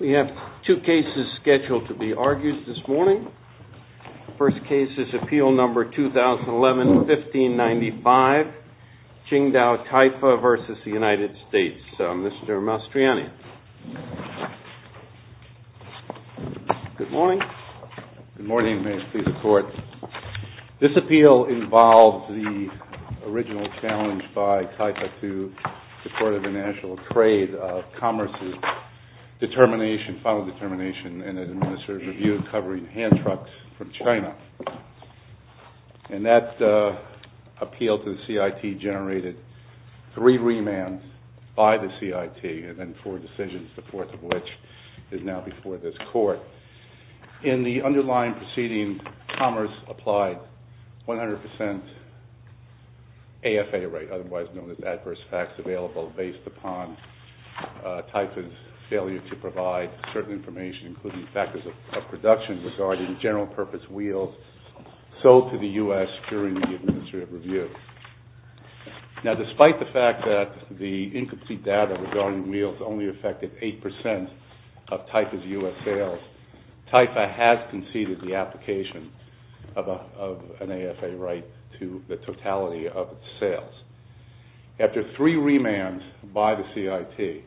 We have two cases scheduled to be argued this morning. The first case is Appeal No. 2011-1595, QINGDAO TAIFA v. United States. Mr. Mastriani? Good morning. Good morning. May it please be a pleasure to serve under your chairmanship, Mr. Mastriani. This is a case that was challenged by TAIFA to the Court of International Trade of Commerce's determination, final determination, in an administrative review covering hand trucks from China. And that appeal to the CIT generated three remands by the CIT and then four decisions, the fourth of which is now before this Court. In the underlying proceeding, Commerce applied 100% AFA rate, otherwise known as adverse facts available, based upon TAIFA's failure to provide certain information, including factors of production regarding general purpose wheels, sold to the U.S. during the administrative review. Now, despite the fact that the incomplete data regarding wheels only affected 8% of TAIFA's U.S. sales, TAIFA has conceded the application of an AFA right to the totality of its sales. After three remands by the CIT,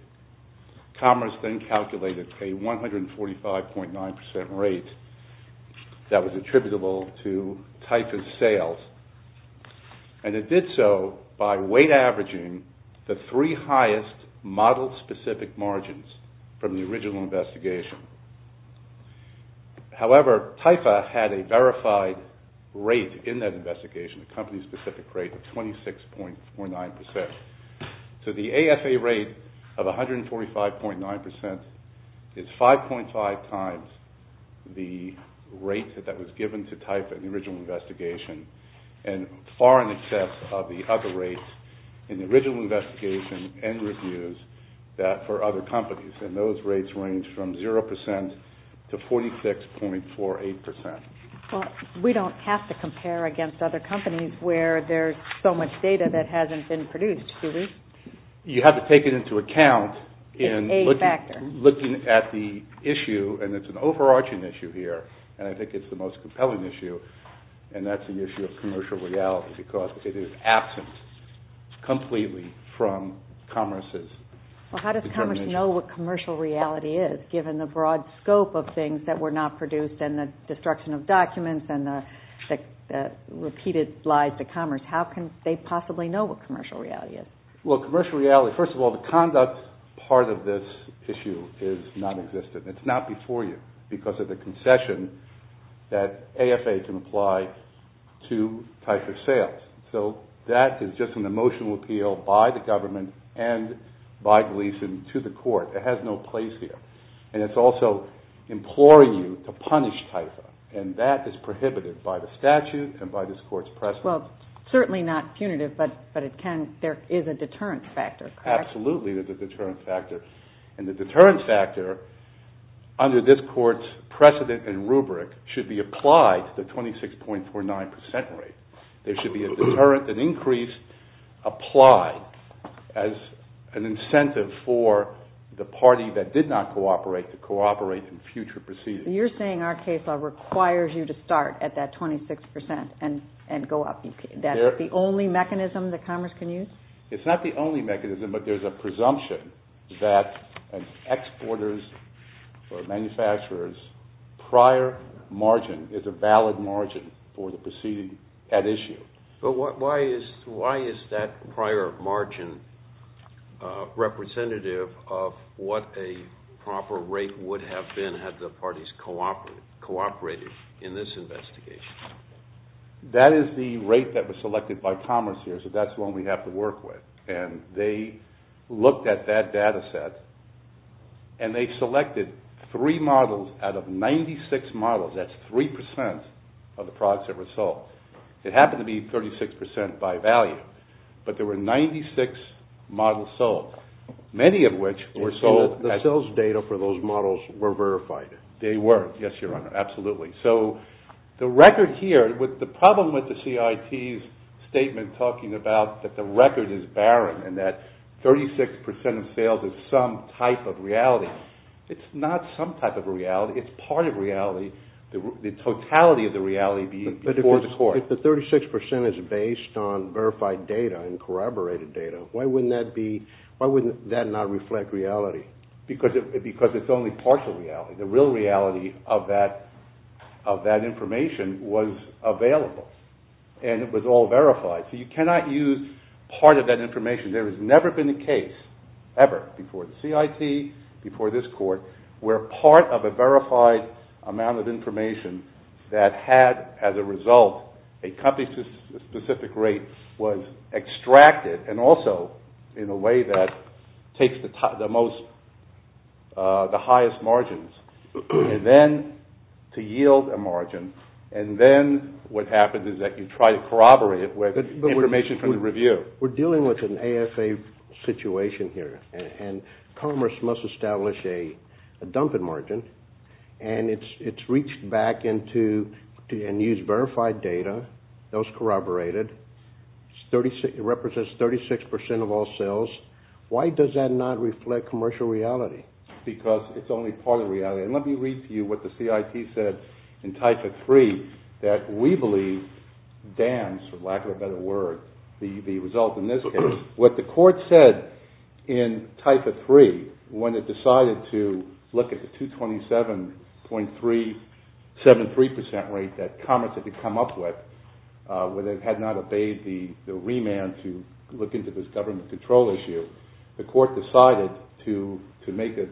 Commerce then calculated a 145.9% rate that was attributable to TAIFA's sales. And it did so by weight averaging the three highest model-specific margins from the original investigation. However, TAIFA had a verified rate in that investigation, a company-specific rate of 26.49%. So the AFA rate of 145.9% is 5.5 times the rate that was given to TAIFA in the original investigation, and far in excess of the other rates in the original investigation and reviews for other companies. And those rates range from 0% to 46.48%. Well, we don't have to compare against other companies where there's so much data that hasn't been produced, do we? You have to take it into account in looking at the issue, and it's an overarching issue here. And I think it's the most compelling issue, and that's the issue of commercial reality, because it is absent completely from Commerce's determination. Well, how does Commerce know what commercial reality is, given the broad scope of things that were not produced and the destruction of documents and the repeated lies to Commerce? How can they possibly know what commercial reality is? Well, commercial reality, first of all, the conduct part of this issue is nonexistent. It's not before you because of the concession that AFA can apply to TAIFA sales. So that is just an emotional appeal by the government and by Gleeson to the court. It has no place here. And it's also imploring you to punish TAIFA, and that is prohibited by the statute and by this Court's precedent. Well, certainly not punitive, but there is a deterrent factor, correct? Absolutely, there's a deterrent factor. And the deterrent factor, under this Court's precedent and rubric, should be applied to the 26.49 percent rate. There should be a deterrent, an increase applied as an incentive for the party that did not cooperate to cooperate in future proceedings. You're saying our case law requires you to start at that 26 percent and go up. That's the only mechanism that Commerce can use? It's not the only mechanism, but there's a presumption that an exporter's or manufacturer's prior margin is a valid margin for the proceeding at issue. But why is that prior margin representative of what a proper rate would have been had the parties cooperated in this investigation? That is the rate that was selected by Commerce here, so that's the one we have to work with. And they looked at that data set, and they selected three models out of 96 models. That's 3 percent of the products that were sold. It happened to be 36 percent by value, but there were 96 models sold, many of which were sold. So the sales data for those models were verified? They were, yes, Your Honor, absolutely. So the record here, the problem with the CIT's statement talking about that the record is barren and that 36 percent of sales is some type of reality, it's not some type of reality. It's part of reality. The totality of the reality before the court. But if the 36 percent is based on verified data and corroborated data, why wouldn't that not reflect reality? Because it's only part of reality. The real reality of that information was available, and it was all verified. So you cannot use part of that information. There has never been a case, ever, before the CIT, before this court, where part of a verified amount of information that had, as a result, a company-specific rate was extracted, and also in a way that takes the highest margins, and then to yield a margin, and then what happens is that you try to corroborate it with information from the review. We're dealing with an AFA situation here, and Commerce must establish a dumping margin, and it's reached back and used verified data, those corroborated. It represents 36 percent of all sales. Why does that not reflect commercial reality? Because it's only part of reality. And let me read to you what the CIT said in Type III that we believe dams, for lack of a better word, the result in this case. What the court said in Type III when it decided to look at the 227.73 percent rate that Commerce had to come up with, where they had not obeyed the remand to look into this government control issue, the court decided to make a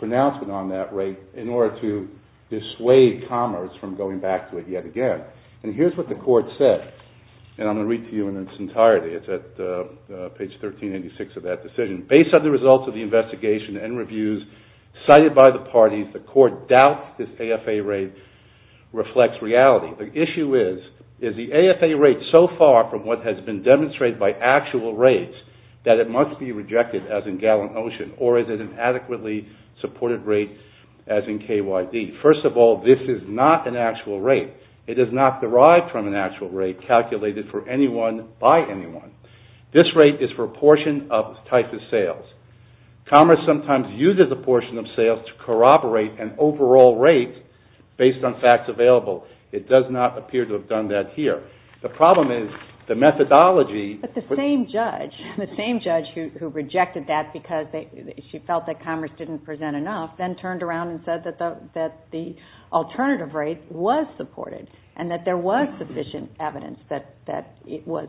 pronouncement on that rate in order to dissuade Commerce from going back to it yet again. And here's what the court said, and I'm going to read to you in its entirety. It's at page 1386 of that decision. Based on the results of the investigation and reviews cited by the parties, the court doubts this AFA rate reflects reality. The issue is, is the AFA rate so far from what has been demonstrated by actual rates that it must be rejected as in Gallant Ocean, or is it an adequately supported rate as in KYD? First of all, this is not an actual rate. It is not derived from an actual rate calculated for anyone by anyone. This rate is for a portion of types of sales. Commerce sometimes uses a portion of sales to corroborate an overall rate based on facts available. It does not appear to have done that here. The problem is the methodology. But the same judge who rejected that because she felt that Commerce didn't present enough then turned around and said that the alternative rate was supported and that there was sufficient evidence that it was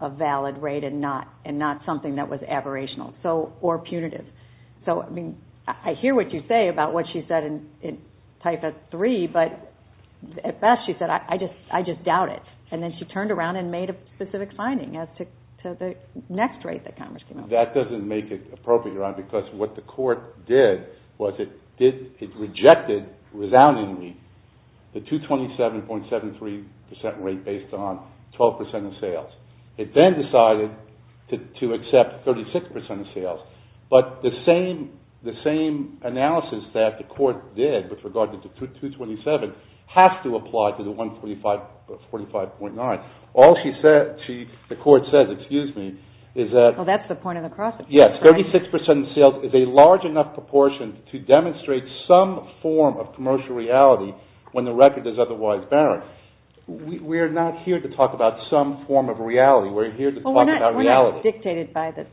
a valid rate and not something that was aberrational or punitive. So, I mean, I hear what you say about what she said in Type S3, but at best she said, I just doubt it. And then she turned around and made a specific finding as to the next rate that Commerce came up with. That doesn't make it appropriate, Ron, because what the court did was it rejected, resoundingly, the 227.73% rate based on 12% of sales. It then decided to accept 36% of sales. But the same analysis that the court did with regard to 227 has to apply to the 145.9. All the court says is that 36% of sales is a large enough proportion to demonstrate some form of commercial reality when the record is otherwise barren. We're not here to talk about some form of reality. We're here to talk about reality. Well, we're not dictated by the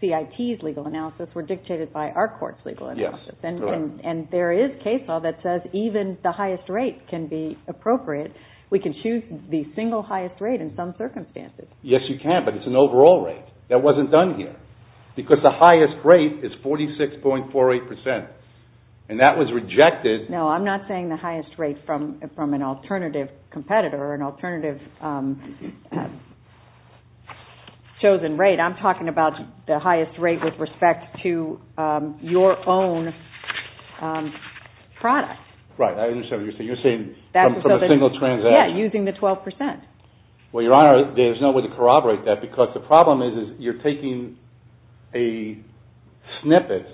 CIT's legal analysis. We're dictated by our court's legal analysis. And there is case law that says even the highest rate can be appropriate. We can choose the single highest rate in some circumstances. Yes, you can, but it's an overall rate. That wasn't done here, because the highest rate is 46.48%. And that was rejected. No, I'm not saying the highest rate from an alternative competitor or an alternative chosen rate. I'm talking about the highest rate with respect to your own product. Right, I understand what you're saying. You're saying from a single transaction. Yeah, using the 12%. Well, Your Honor, there's no way to corroborate that, because the problem is you're taking a snippet,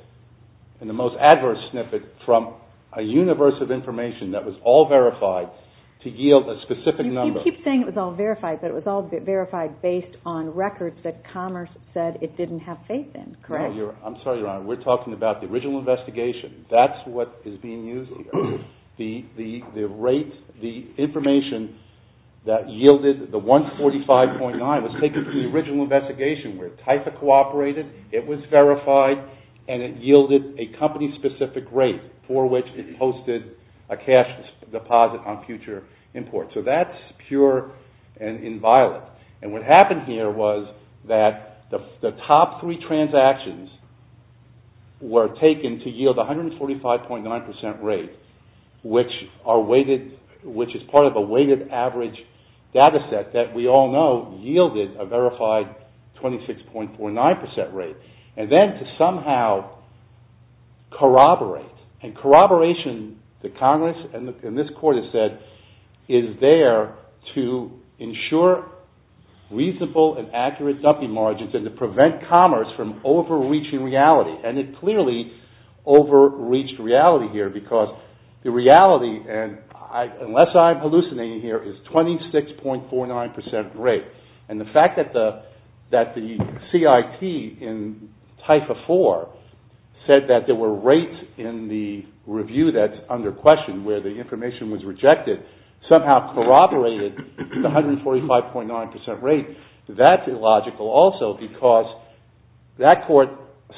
and the most adverse snippet from a universe of information that was all verified to yield a specific number. You keep saying it was all verified, but it was all verified based on records that Commerce said it didn't have faith in, correct? No, I'm sorry, Your Honor. We're talking about the original investigation. That's what is being used here. The information that yielded the 145.9% was taken from the original investigation where TIFA cooperated, it was verified, and it yielded a company-specific rate for which it posted a cash deposit on future import. So that's pure and inviolate. And what happened here was that the top three transactions were taken to yield 145.9% rate, which is part of a weighted average data set that we all know yielded a verified 26.49% rate, and then to somehow corroborate. And corroboration, the Congress and this Court have said, is there to ensure reasonable and accurate dumping margins and to prevent Commerce from overreaching reality. And it clearly overreached reality here because the reality, and unless I'm hallucinating here, is 26.49% rate. And the fact that the CIT in TIFA IV said that there were rates in the review that's under question where the information was rejected somehow corroborated the 145.9% rate. That's illogical also because that Court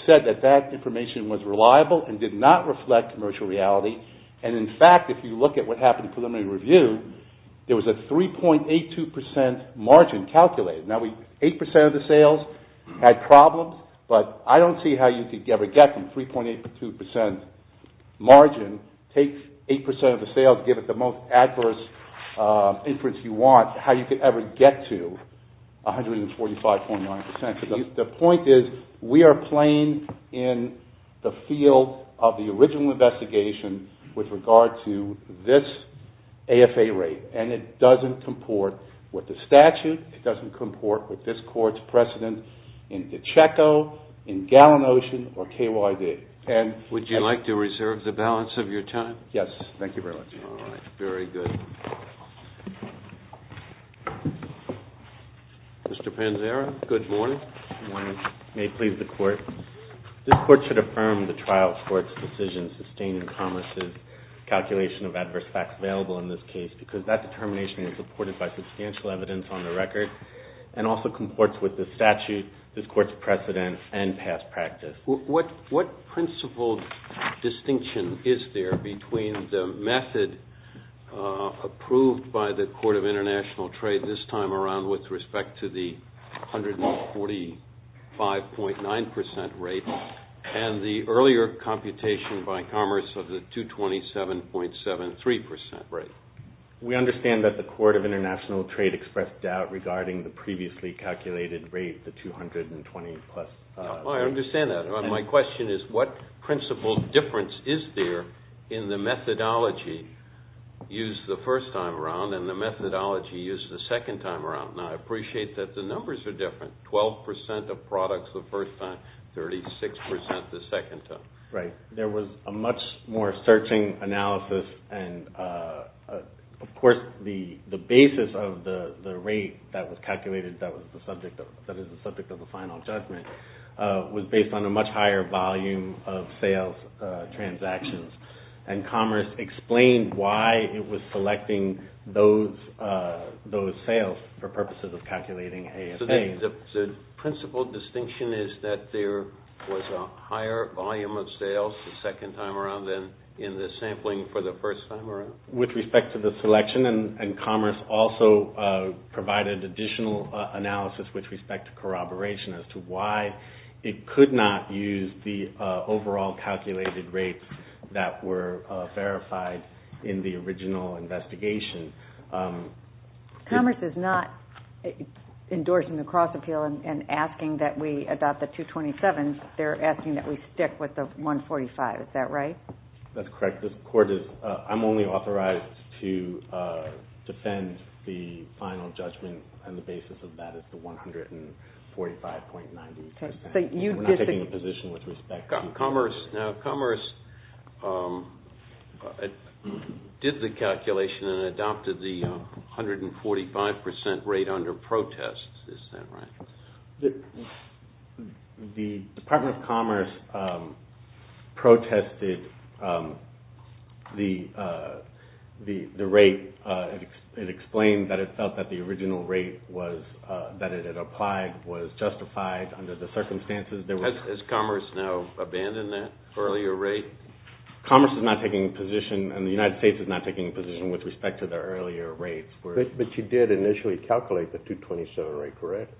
said that that information was reliable and did not reflect commercial reality. And in fact, if you look at what happened in preliminary review, there was a 3.82% margin calculated. Now, 8% of the sales had problems, but I don't see how you could ever get from 3.82% margin, take 8% of the sales, give it the most adverse inference you want, how you could ever get to 145.9%. The point is we are playing in the field of the original investigation with regard to this AFA rate. And it doesn't comport with the statute. It doesn't comport with this Court's precedent in DiCecco, in Gallin Ocean, or KYD. Would you like to reserve the balance of your time? Yes, thank you very much. All right, very good. Mr. Panzara, good morning. Good morning. May it please the Court. This Court should affirm the trial court's decision sustaining Thomas's calculation of adverse facts available in this case because that determination was supported by substantial evidence on the record and also comports with the statute, this Court's precedent, and past practice. What principle distinction is there between the method of the trial approved by the Court of International Trade this time around with respect to the 145.9% rate and the earlier computation by Commerce of the 227.73% rate? We understand that the Court of International Trade expressed doubt regarding the previously calculated rate, the 220 plus. I understand that. My question is what principle difference is there in the methodology used the first time around and the methodology used the second time around? Now, I appreciate that the numbers are different. Twelve percent of products the first time, 36% the second time. Right. There was a much more searching analysis, and of course the basis of the rate that was calculated that is the subject of the final judgment was based on a much higher volume of sales transactions. And Commerce explained why it was selecting those sales for purposes of calculating ASA. So the principle distinction is that there was a higher volume of sales the second time around than in the sampling for the first time around? With respect to the selection, and Commerce also provided additional analysis with respect to corroboration as to why it could not use the overall calculated rates that were verified in the original investigation. Commerce is not endorsing the cross-appeal and asking that we adopt the 227. They're asking that we stick with the 145. Is that right? That's correct. I'm only authorized to defend the final judgment and the basis of that is the 145.90. We're not taking a position with respect to Commerce. Now Commerce did the calculation and adopted the 145% rate under protest. Is that right? The Department of Commerce protested the rate. It explained that it felt that the original rate that it had applied was justified under the circumstances. Has Commerce now abandoned that earlier rate? Commerce is not taking a position and the United States is not taking a position with respect to their earlier rates. But you did initially calculate the 227 rate, correct?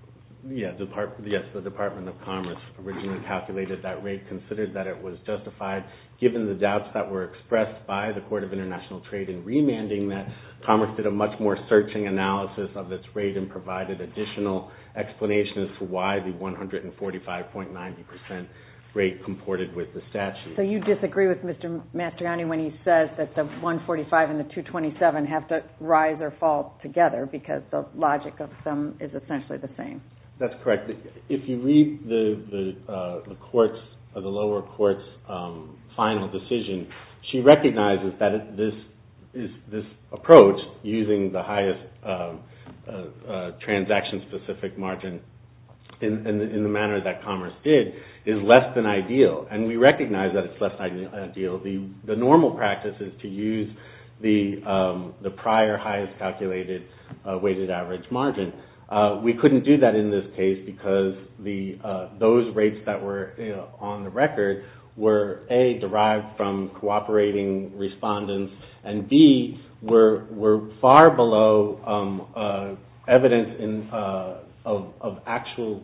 Yes, the Department of Commerce originally calculated that rate, considered that it was justified given the doubts that were expressed by the Court of International Trade in remanding that, Commerce did a much more searching analysis of its rate and provided additional explanations for why the 145.90% rate comported with the statute. So you disagree with Mr. Matriani when he says that the 145 and the 227 have to rise or fall together because the logic of them is essentially the same? That's correct. If you read the lower court's final decision, she recognizes that this approach, using the highest transaction-specific margin in the manner that Commerce did, is less than ideal. And we recognize that it's less than ideal. The normal practice is to use the prior highest calculated weighted average margin. We couldn't do that in this case because those rates that were on the record were A, derived from cooperating respondents, and B, were far below evidence of actual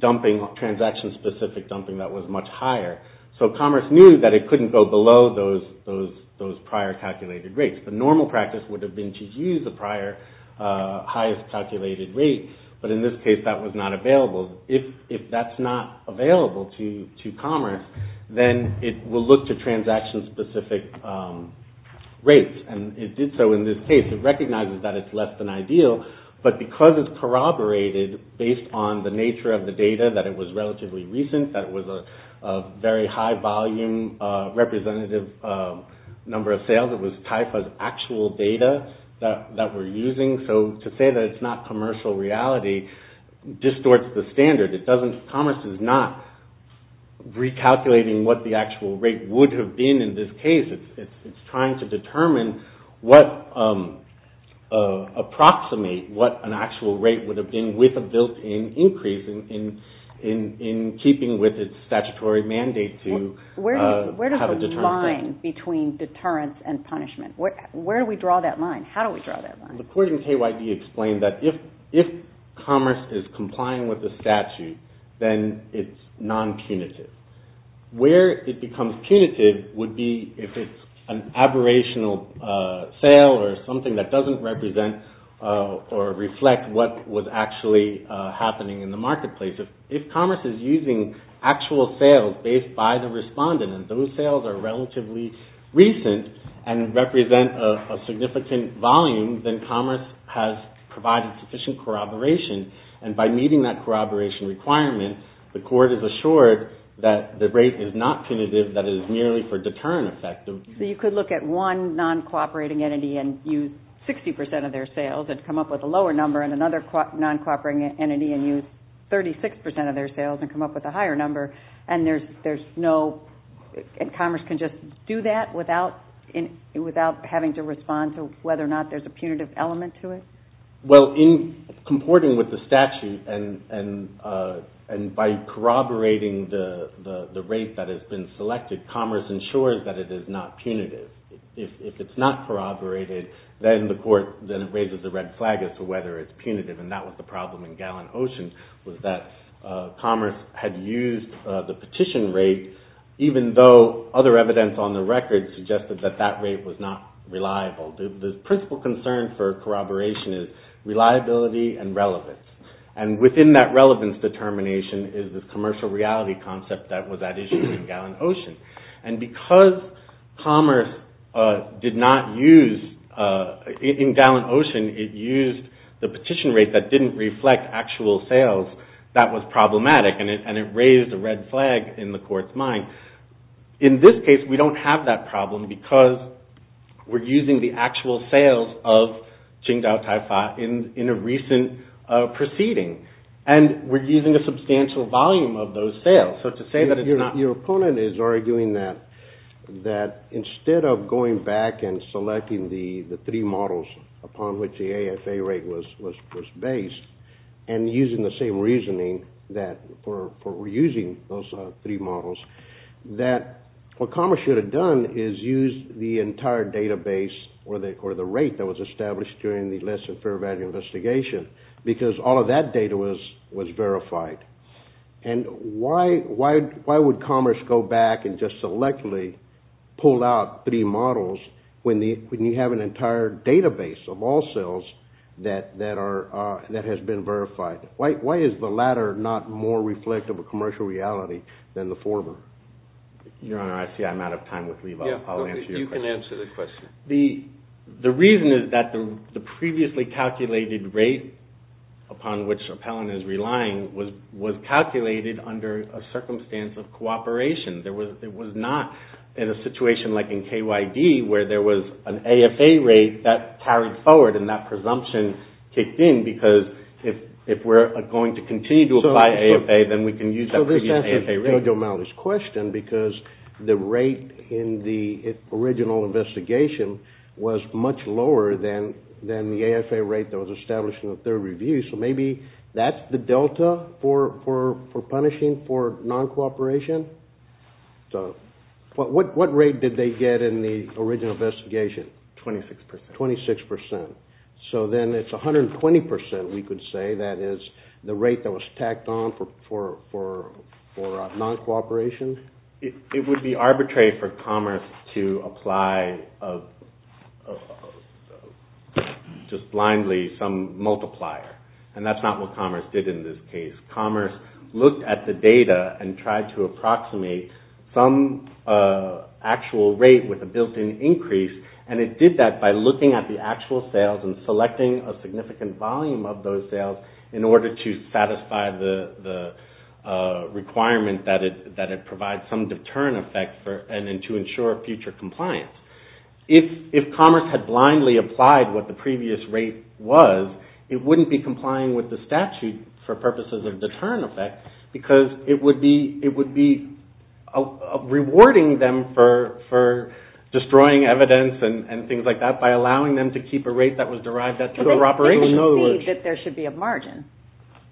dumping, transaction-specific dumping that was much higher. So Commerce knew that it couldn't go below those prior calculated rates. The normal practice would have been to use the prior highest calculated rate, but in this case that was not available. If that's not available to Commerce, then it will look to transaction-specific rates, and it did so in this case. It recognizes that it's less than ideal, but because it's corroborated based on the nature of the data, that it was relatively recent, that it was a very high volume representative number of sales, it was TIFA's actual data that we're using. So to say that it's not commercial reality distorts the standard. Commerce is not recalculating what the actual rate would have been in this case. It's trying to approximate what an actual rate would have been with a built-in increase in keeping with its statutory mandate to have a determined rate. Where does the line between deterrence and punishment, where do we draw that line? How do we draw that line? The court in KYD explained that if Commerce is complying with the statute, then it's non-punitive. Where it becomes punitive would be if it's an aberrational sale or something that doesn't represent or reflect what was actually happening in the marketplace. If Commerce is using actual sales based by the respondent, and those sales are relatively recent and represent a significant volume, then Commerce has provided sufficient corroboration, and by meeting that corroboration requirement, the court is assured that the rate is not punitive, that it is merely for deterrent effect. You could look at one non-cooperating entity and use 60% of their sales and come up with a lower number, and another non-cooperating entity and use 36% of their sales and come up with a higher number, and Commerce can just do that without having to respond to whether or not there's a punitive element to it? Well, in comporting with the statute, and by corroborating the rate that has been selected, Commerce ensures that it is not punitive. If it's not corroborated, then the court raises a red flag as to whether it's punitive, and that was the problem in Gallon Ocean, was that Commerce had used the petition rate, even though other evidence on the record suggested that that rate was not reliable. The principal concern for corroboration is reliability and relevance, and within that relevance determination is the commercial reality concept that was at issue in Gallon Ocean, and because Commerce did not use, in Gallon Ocean, it used the petition rate that didn't reflect actual sales, that was problematic, and it raised a red flag in the court's mind. In this case, we don't have that problem because we're using the actual sales of Qingdao Taifa in a recent proceeding, and we're using a substantial volume of those sales. So to say that it's not... Your opponent is arguing that instead of going back and selecting the three models upon which the AFA rate was based, and using the same reasoning for using those three models, that what Commerce should have done is used the entire database or the rate that was established during the less than fair value investigation, because all of that data was verified. And why would Commerce go back and just selectively pull out three models when you have an entire database of all sales that has been verified? Why is the latter not more reflective of commercial reality than the former? Your Honor, I see I'm out of time with Lee, but I'll answer your question. You can answer the question. The reason is that the previously calculated rate upon which Appellant is relying was calculated under a circumstance of cooperation. It was not in a situation like in KYD where there was an AFA rate that carried forward and that presumption kicked in because if we're going to continue to apply AFA, then we can use that previous AFA rate. So this answers Giorgio Maldi's question, because the rate in the original investigation was much lower than the AFA rate that was established in the third review, so maybe that's the delta for punishing for non-cooperation? What rate did they get in the original investigation? 26%. 26%. So then it's 120%, we could say, that is the rate that was tacked on for non-cooperation? It would be arbitrary for Commerce to apply just blindly some multiplier, and that's not what Commerce did in this case. Commerce looked at the data and tried to approximate some actual rate with a built-in increase, and it did that by looking at the actual sales and selecting a significant volume of those sales in order to satisfy the requirement that it provide some deterrent effect to ensure future compliance. If Commerce had blindly applied what the previous rate was, it wouldn't be complying with the statute for purposes of deterrent effect, because it would be rewarding them for destroying evidence and things like that by allowing them to keep a rate that was derived at their operation. But they concede that there should be a margin,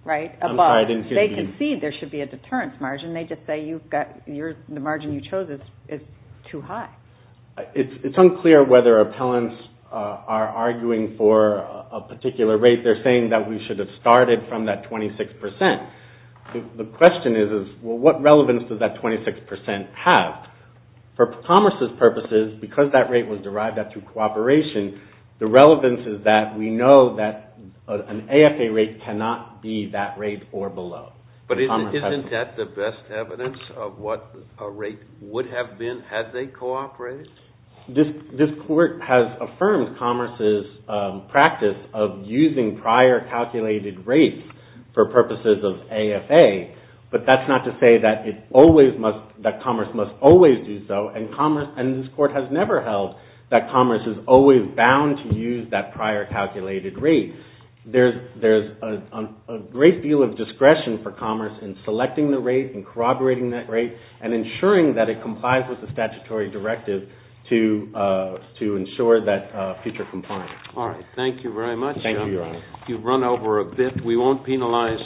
right? I'm sorry, I didn't hear you. They concede there should be a deterrent margin. They just say the margin you chose is too high. It's unclear whether appellants are arguing for a particular rate. They're saying that we should have started from that 26%. The question is, well, what relevance does that 26% have For Commerce's purposes, because that rate was derived at through cooperation, the relevance is that we know that an AFA rate cannot be that rate or below. But isn't that the best evidence of what a rate would have been had they cooperated? This Court has affirmed Commerce's practice of using prior calculated rates for purposes of AFA, but that's not to say that Commerce must always do so, and this Court has never held that Commerce is always bound to use that prior calculated rate. There's a great deal of discretion for Commerce in selecting the rate and corroborating that rate and ensuring that it complies with the statutory directive to ensure that future compliance. All right, thank you very much. Thank you, Your Honor. You've run over a bit. We won't penalize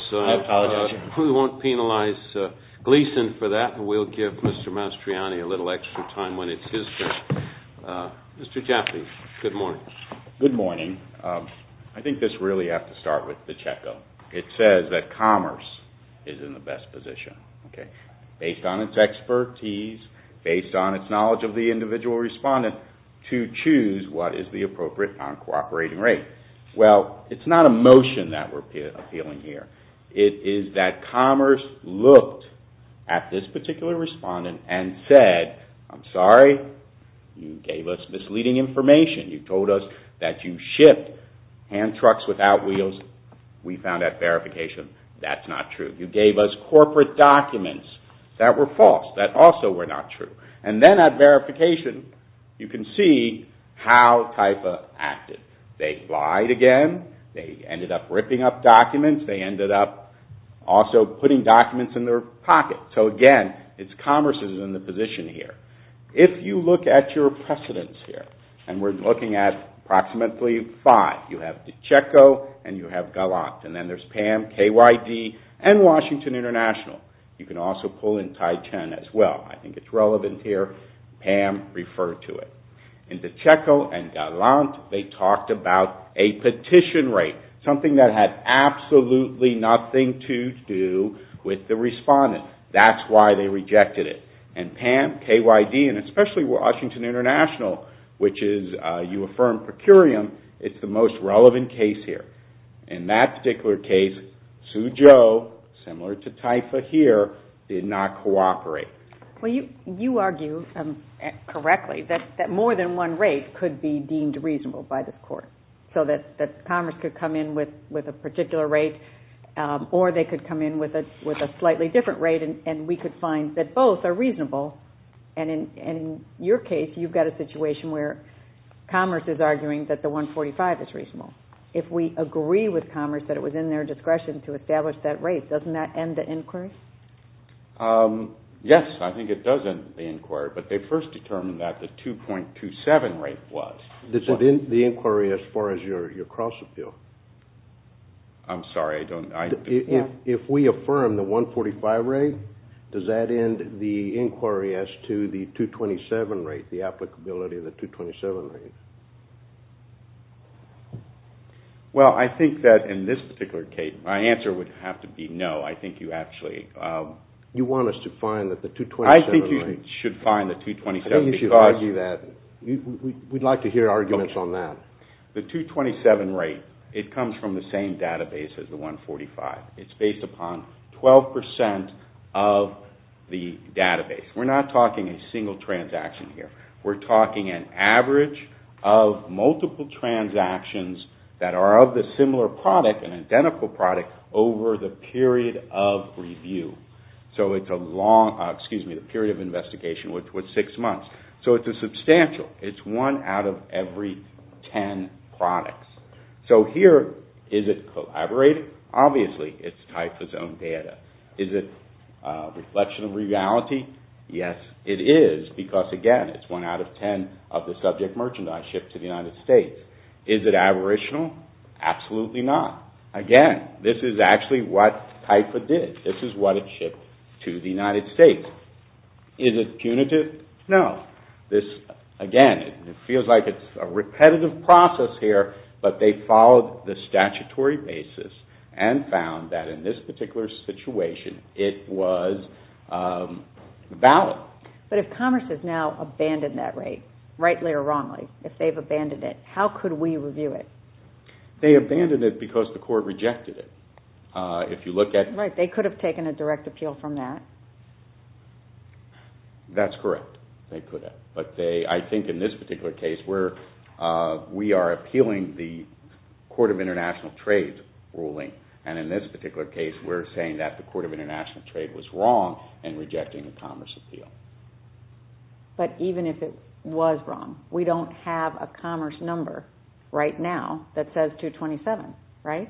Gleeson for that, and we'll give Mr. Mastriani a little extra time when it's his turn. Mr. Chaffee, good morning. Good morning. I think this really has to start with the checkup. It says that Commerce is in the best position, based on its expertise, based on its knowledge of the individual respondent, to choose what is the appropriate non-cooperating rate. Well, it's not a motion that we're appealing here. It is that Commerce looked at this particular respondent and said, I'm sorry, you gave us misleading information. You told us that you shipped hand trucks without wheels. We found that verification. That's not true. You gave us corporate documents that were false, that also were not true. And then at verification, you can see how TIFA acted. They lied again. They ended up ripping up documents. They ended up also putting documents in their pocket. So, again, Commerce is in the position here. If you look at your precedents here, and we're looking at approximately five. You have DiCecco and you have Gallant, and then there's PAM, KYD, and Washington International. You can also pull in Tai Chen as well. I think it's relevant here. PAM referred to it. In DiCecco and Gallant, they talked about a petition rate, something that had absolutely nothing to do with the respondent. That's why they rejected it. And PAM, KYD, and especially Washington International, which is you affirm per curiam, it's the most relevant case here. In that particular case, Sue Jo, similar to TIFA here, did not cooperate. You argue correctly that more than one rate could be deemed reasonable by the court, so that Commerce could come in with a particular rate or they could come in with a slightly different rate, and we could find that both are reasonable. In your case, you've got a situation where Commerce is arguing that the 145 is reasonable. If we agree with Commerce that it was in their discretion to establish that rate, doesn't that end the inquiry? Yes, I think it does end the inquiry. But they first determined that the 2.27 rate was. Does it end the inquiry as far as your cross-appeal? I'm sorry, I don't know. If we affirm the 145 rate, does that end the inquiry as to the 227 rate, the applicability of the 227 rate? Well, I think that in this particular case, my answer would have to be no. I think you actually... You want us to find that the 227 rate... I think you should find the 227 because... I think you should argue that. We'd like to hear arguments on that. The 227 rate, it comes from the same database as the 145. It's based upon 12% of the database. We're not talking a single transaction here. We're talking an average of multiple transactions that are of the similar product, an identical product, over the period of review. So it's a long... Excuse me, the period of investigation, which was six months. So it's a substantial. It's one out of every 10 products. So here, is it collaborated? Obviously, it's tied to its own data. Is it a reflection of reality? Yes, it is because, again, it's one out of 10 of the subject merchandise shipped to the United States. Is it aboriginal? Absolutely not. Again, this is actually what TIFA did. This is what it shipped to the United States. Is it punitive? No. This, again, it feels like it's a repetitive process here, but they followed the statutory basis and found that in this particular situation, it was valid. But if commerce has now abandoned that rate, rightly or wrongly, if they've abandoned it, how could we review it? They abandoned it because the court rejected it. If you look at... Right, they could have taken a direct appeal from that. That's correct. They could have. But I think in this particular case, we are appealing the Court of International Trade ruling, and in this particular case, we're saying that the Court of International Trade was wrong in rejecting the commerce appeal. But even if it was wrong, we don't have a commerce number right now that says 227, right?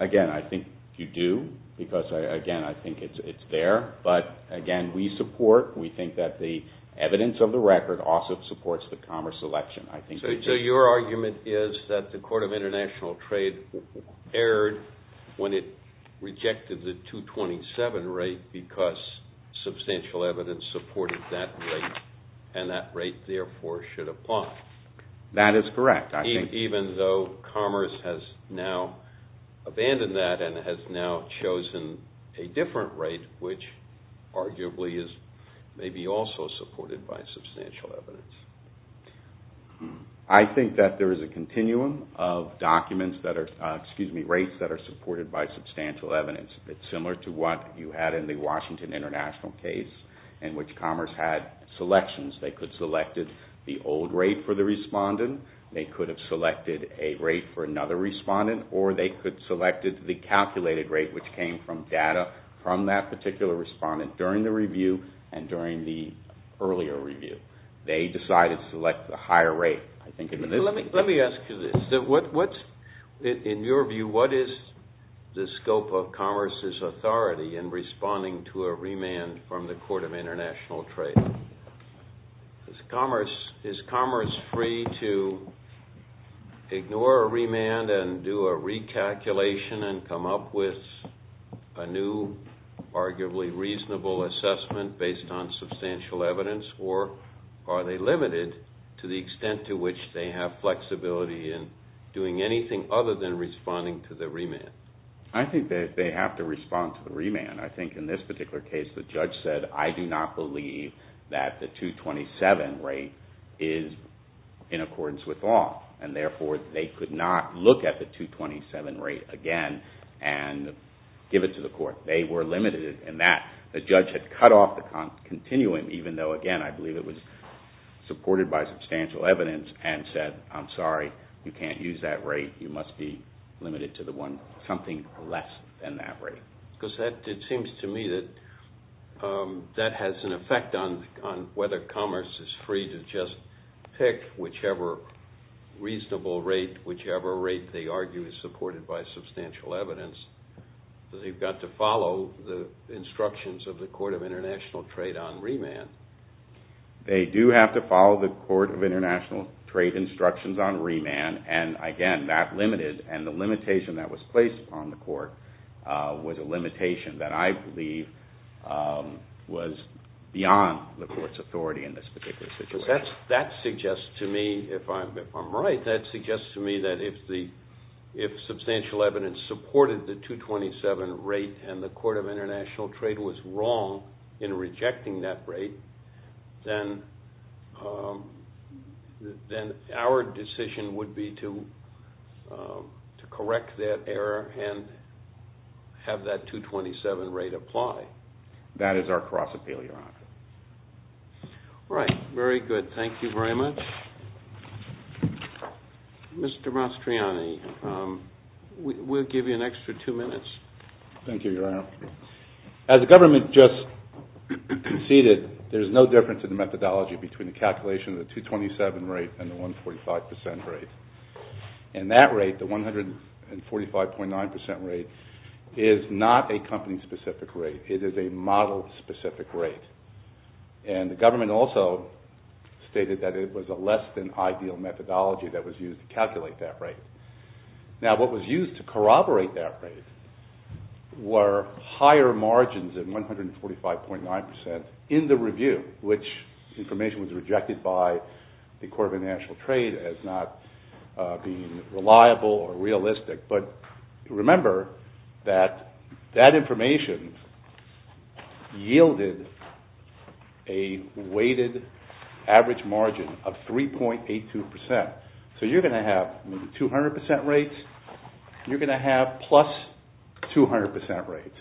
Again, I think you do because, again, I think it's there. But, again, we support, we think that the evidence of the record also supports the commerce election. So your argument is that the Court of International Trade erred when it rejected the 227 rate because substantial evidence supported that rate, and that rate, therefore, should apply. That is correct. Even though commerce has now abandoned that and has now chosen a different rate, which arguably is maybe also supported by substantial evidence. I think that there is a continuum of documents that are, excuse me, rates that are supported by substantial evidence. It's similar to what you had in the Washington International case in which commerce had selections. They could have selected the old rate for the respondent, they could have selected a rate for another respondent, or they could have selected the calculated rate which came from data from that particular respondent during the review and during the earlier review. They decided to select the higher rate, I think. Let me ask you this. In your view, what is the scope of commerce's authority in responding to a remand from the Court of International Trade? Is commerce free to ignore a remand and do a recalculation and come up with a new, arguably reasonable assessment based on substantial evidence? Or are they limited to the extent to which they have flexibility in doing anything other than responding to the remand? I think that they have to respond to the remand. I think in this particular case the judge said, I do not believe that the 227 rate is in accordance with law, and therefore they could not look at the 227 rate again and give it to the court. They were limited in that. The judge had cut off the continuum, even though, again, I believe it was supported by substantial evidence, and said, I'm sorry, you can't use that rate. You must be limited to something less than that rate. Because it seems to me that that has an effect on whether commerce is free to just pick whichever reasonable rate, whichever rate they argue is supported by substantial evidence. They've got to follow the instructions of the Court of International Trade on remand. They do have to follow the Court of International Trade instructions on remand, and again, that limited, and the limitation that was placed upon the court was a limitation that I believe was beyond the court's authority in this particular situation. That suggests to me, if I'm right, that suggests to me that if substantial evidence supported the 227 rate and the Court of International Trade was wrong in rejecting that rate, then our decision would be to correct that error and have that 227 rate apply. That is our cross-appeal, Your Honor. All right. Very good. Thank you very much. Mr. Mastriani, we'll give you an extra two minutes. Thank you, Your Honor. As the government just conceded, there's no difference in the methodology between the calculation of the 227 rate and the 145 percent rate. And that rate, the 145.9 percent rate, is not a company-specific rate. It is a model-specific rate. And the government also stated that it was a less-than-ideal methodology that was used to calculate that rate. Now, what was used to corroborate that rate were higher margins of 145.9 percent in the review, which information was rejected by the Court of International Trade as not being reliable or realistic. But remember that that information yielded a weighted average margin of 3.82 percent. So you're going to have maybe 200 percent rates, and you're going to have plus 200 percent rates.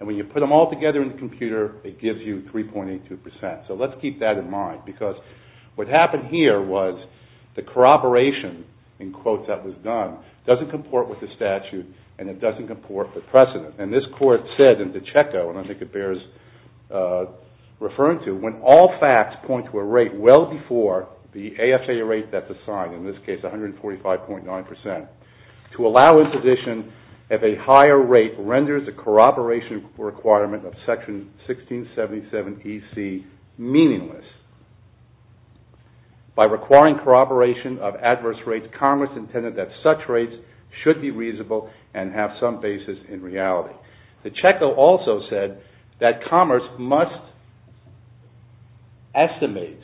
And when you put them all together in the computer, it gives you 3.82 percent. So let's keep that in mind, because what happened here was the corroboration, in quotes, that was done, doesn't comport with the statute, and it doesn't comport with precedent. And this Court said in DiCecco, and I think it bears referring to, when all facts point to a rate well before the AFA rate that's assigned, in this case 145.9 percent, to allow imposition of a higher rate renders the corroboration requirement of Section 1677EC meaningless. By requiring corroboration of adverse rates, Congress intended that such rates should be reasonable and have some basis in reality. DiCecco also said that Commerce must estimate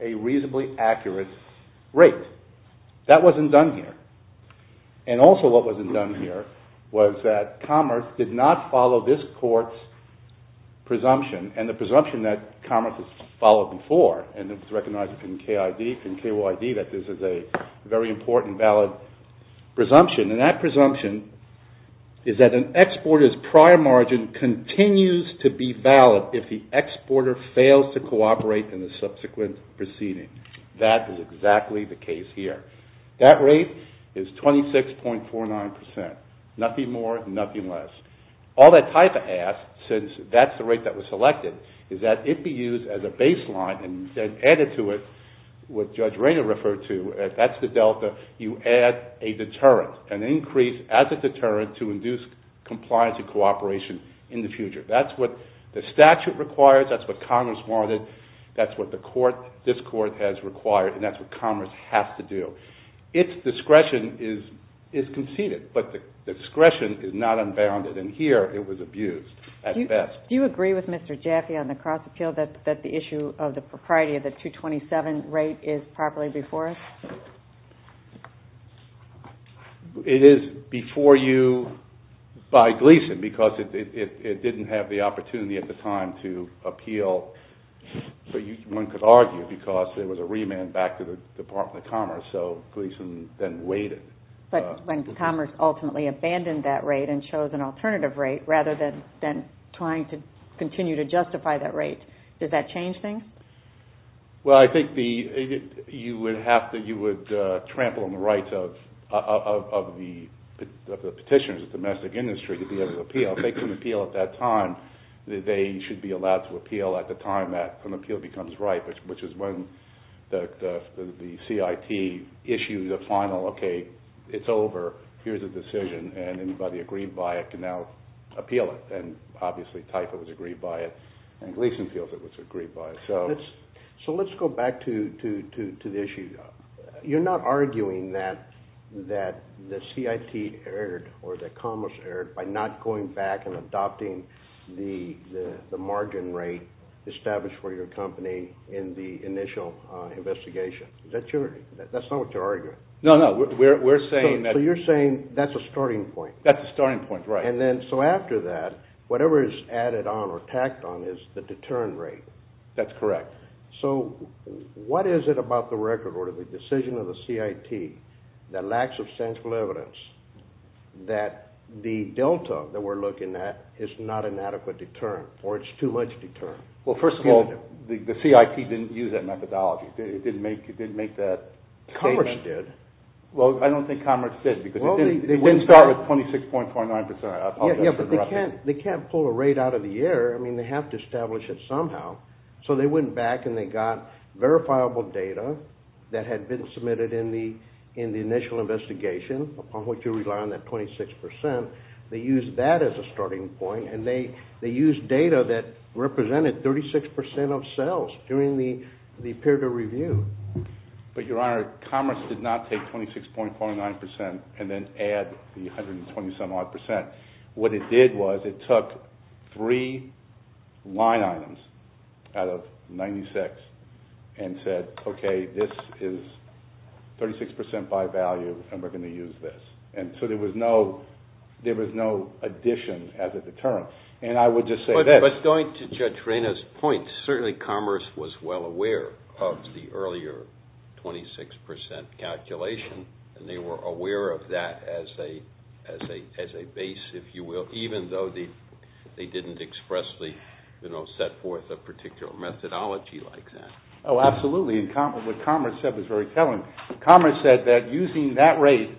a reasonably accurate rate. That wasn't done here. And also what wasn't done here was that Commerce did not follow this Court's presumption, and the presumption that Commerce has followed before, and it's recognized in KYD that this is a very important, valid presumption, and that presumption is that an exporter's prior margin continues to be valid if the exporter fails to cooperate in the subsequent proceeding. That is exactly the case here. That rate is 26.49 percent. Nothing more, nothing less. All that type of ask, since that's the rate that was selected, is that it be used as a baseline, and then added to it what Judge Rayner referred to, that's the delta, you add a deterrent, an increase as a deterrent to induce compliance and cooperation in the future. That's what the statute requires, that's what Commerce wanted, that's what this Court has required, and that's what Commerce has to do. Its discretion is conceded, but the discretion is not unbounded, and here it was abused at best. Do you agree with Mr. Jaffe on the cross-appeal that the issue of the propriety of the 227 rate is properly before us? It is before you by Gleason, because it didn't have the opportunity at the time to appeal. One could argue because there was a remand back to the Department of Commerce, so Gleason then waited. But Commerce ultimately abandoned that rate and chose an alternative rate rather than trying to continue to justify that rate. Does that change things? Well, I think you would trample on the rights of the petitioners, the domestic industry, to be able to appeal. If they couldn't appeal at that time, they should be allowed to appeal at the time that an appeal becomes ripe, which is when the CIT issues a final, okay, it's over, here's a decision, and anybody agreed by it can now appeal it. And obviously TIFA was agreed by it, and Gleason feels it was agreed by it. So let's go back to the issue. You're not arguing that the CIT erred or that Commerce erred by not going back and adopting the margin rate established for your company in the initial investigation. That's not what you're arguing. No, no. So you're saying that's a starting point. That's a starting point, right. So after that, whatever is added on or tacked on is the deterrent rate. That's correct. So what is it about the record order, the decision of the CIT, that lacks substantial evidence that the delta that we're looking at is not an adequate deterrent or it's too much deterrent? Well, first of all, the CIT didn't use that methodology. It didn't make that statement. Commerce did. Well, I don't think Commerce did because it didn't start with 26.49%. Yeah, but they can't pull a rate out of the air. I mean, they have to establish it somehow. So they went back and they got verifiable data that had been submitted in the initial investigation upon which you rely on that 26%. They used that as a starting point, But, Your Honor, Commerce did not take 26.49% and then add the 120-some-odd percent. What it did was it took three line items out of 96 and said, okay, this is 36% by value and we're going to use this. So there was no addition as a deterrent. And I would just say this. But going to Judge Reyna's point, certainly Commerce was well aware of the earlier 26% calculation and they were aware of that as a base, if you will, even though they didn't expressly set forth a particular methodology like that. Oh, absolutely. What Commerce said was very telling. Commerce said that using that rate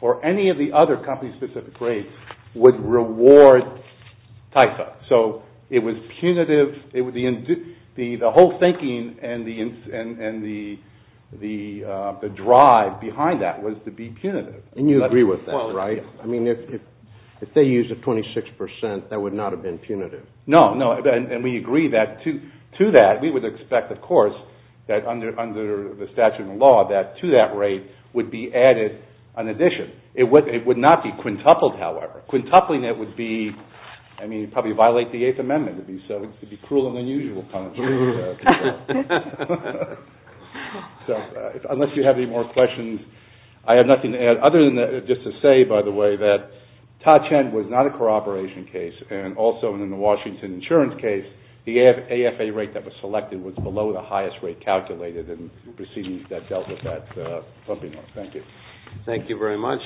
or any of the other company-specific rates would reward TIFA. So it was punitive. The whole thinking and the drive behind that was to be punitive. And you agree with that, right? I mean, if they used a 26%, that would not have been punitive. No, no. And we agree that to that we would expect, of course, that under the statute and law that to that rate would be added an addition. It would not be quintupled, however. Quintupling it would be, I mean, probably violate the Eighth Amendment. It would be cruel and unusual punishment. So unless you have any more questions, I have nothing to add. Other than just to say, by the way, that Todd Chen was not a corroboration case. And also in the Washington insurance case, the AFA rate that was selected was below the highest rate calculated in proceedings that dealt with that pumping. Thank you. Thank you very much.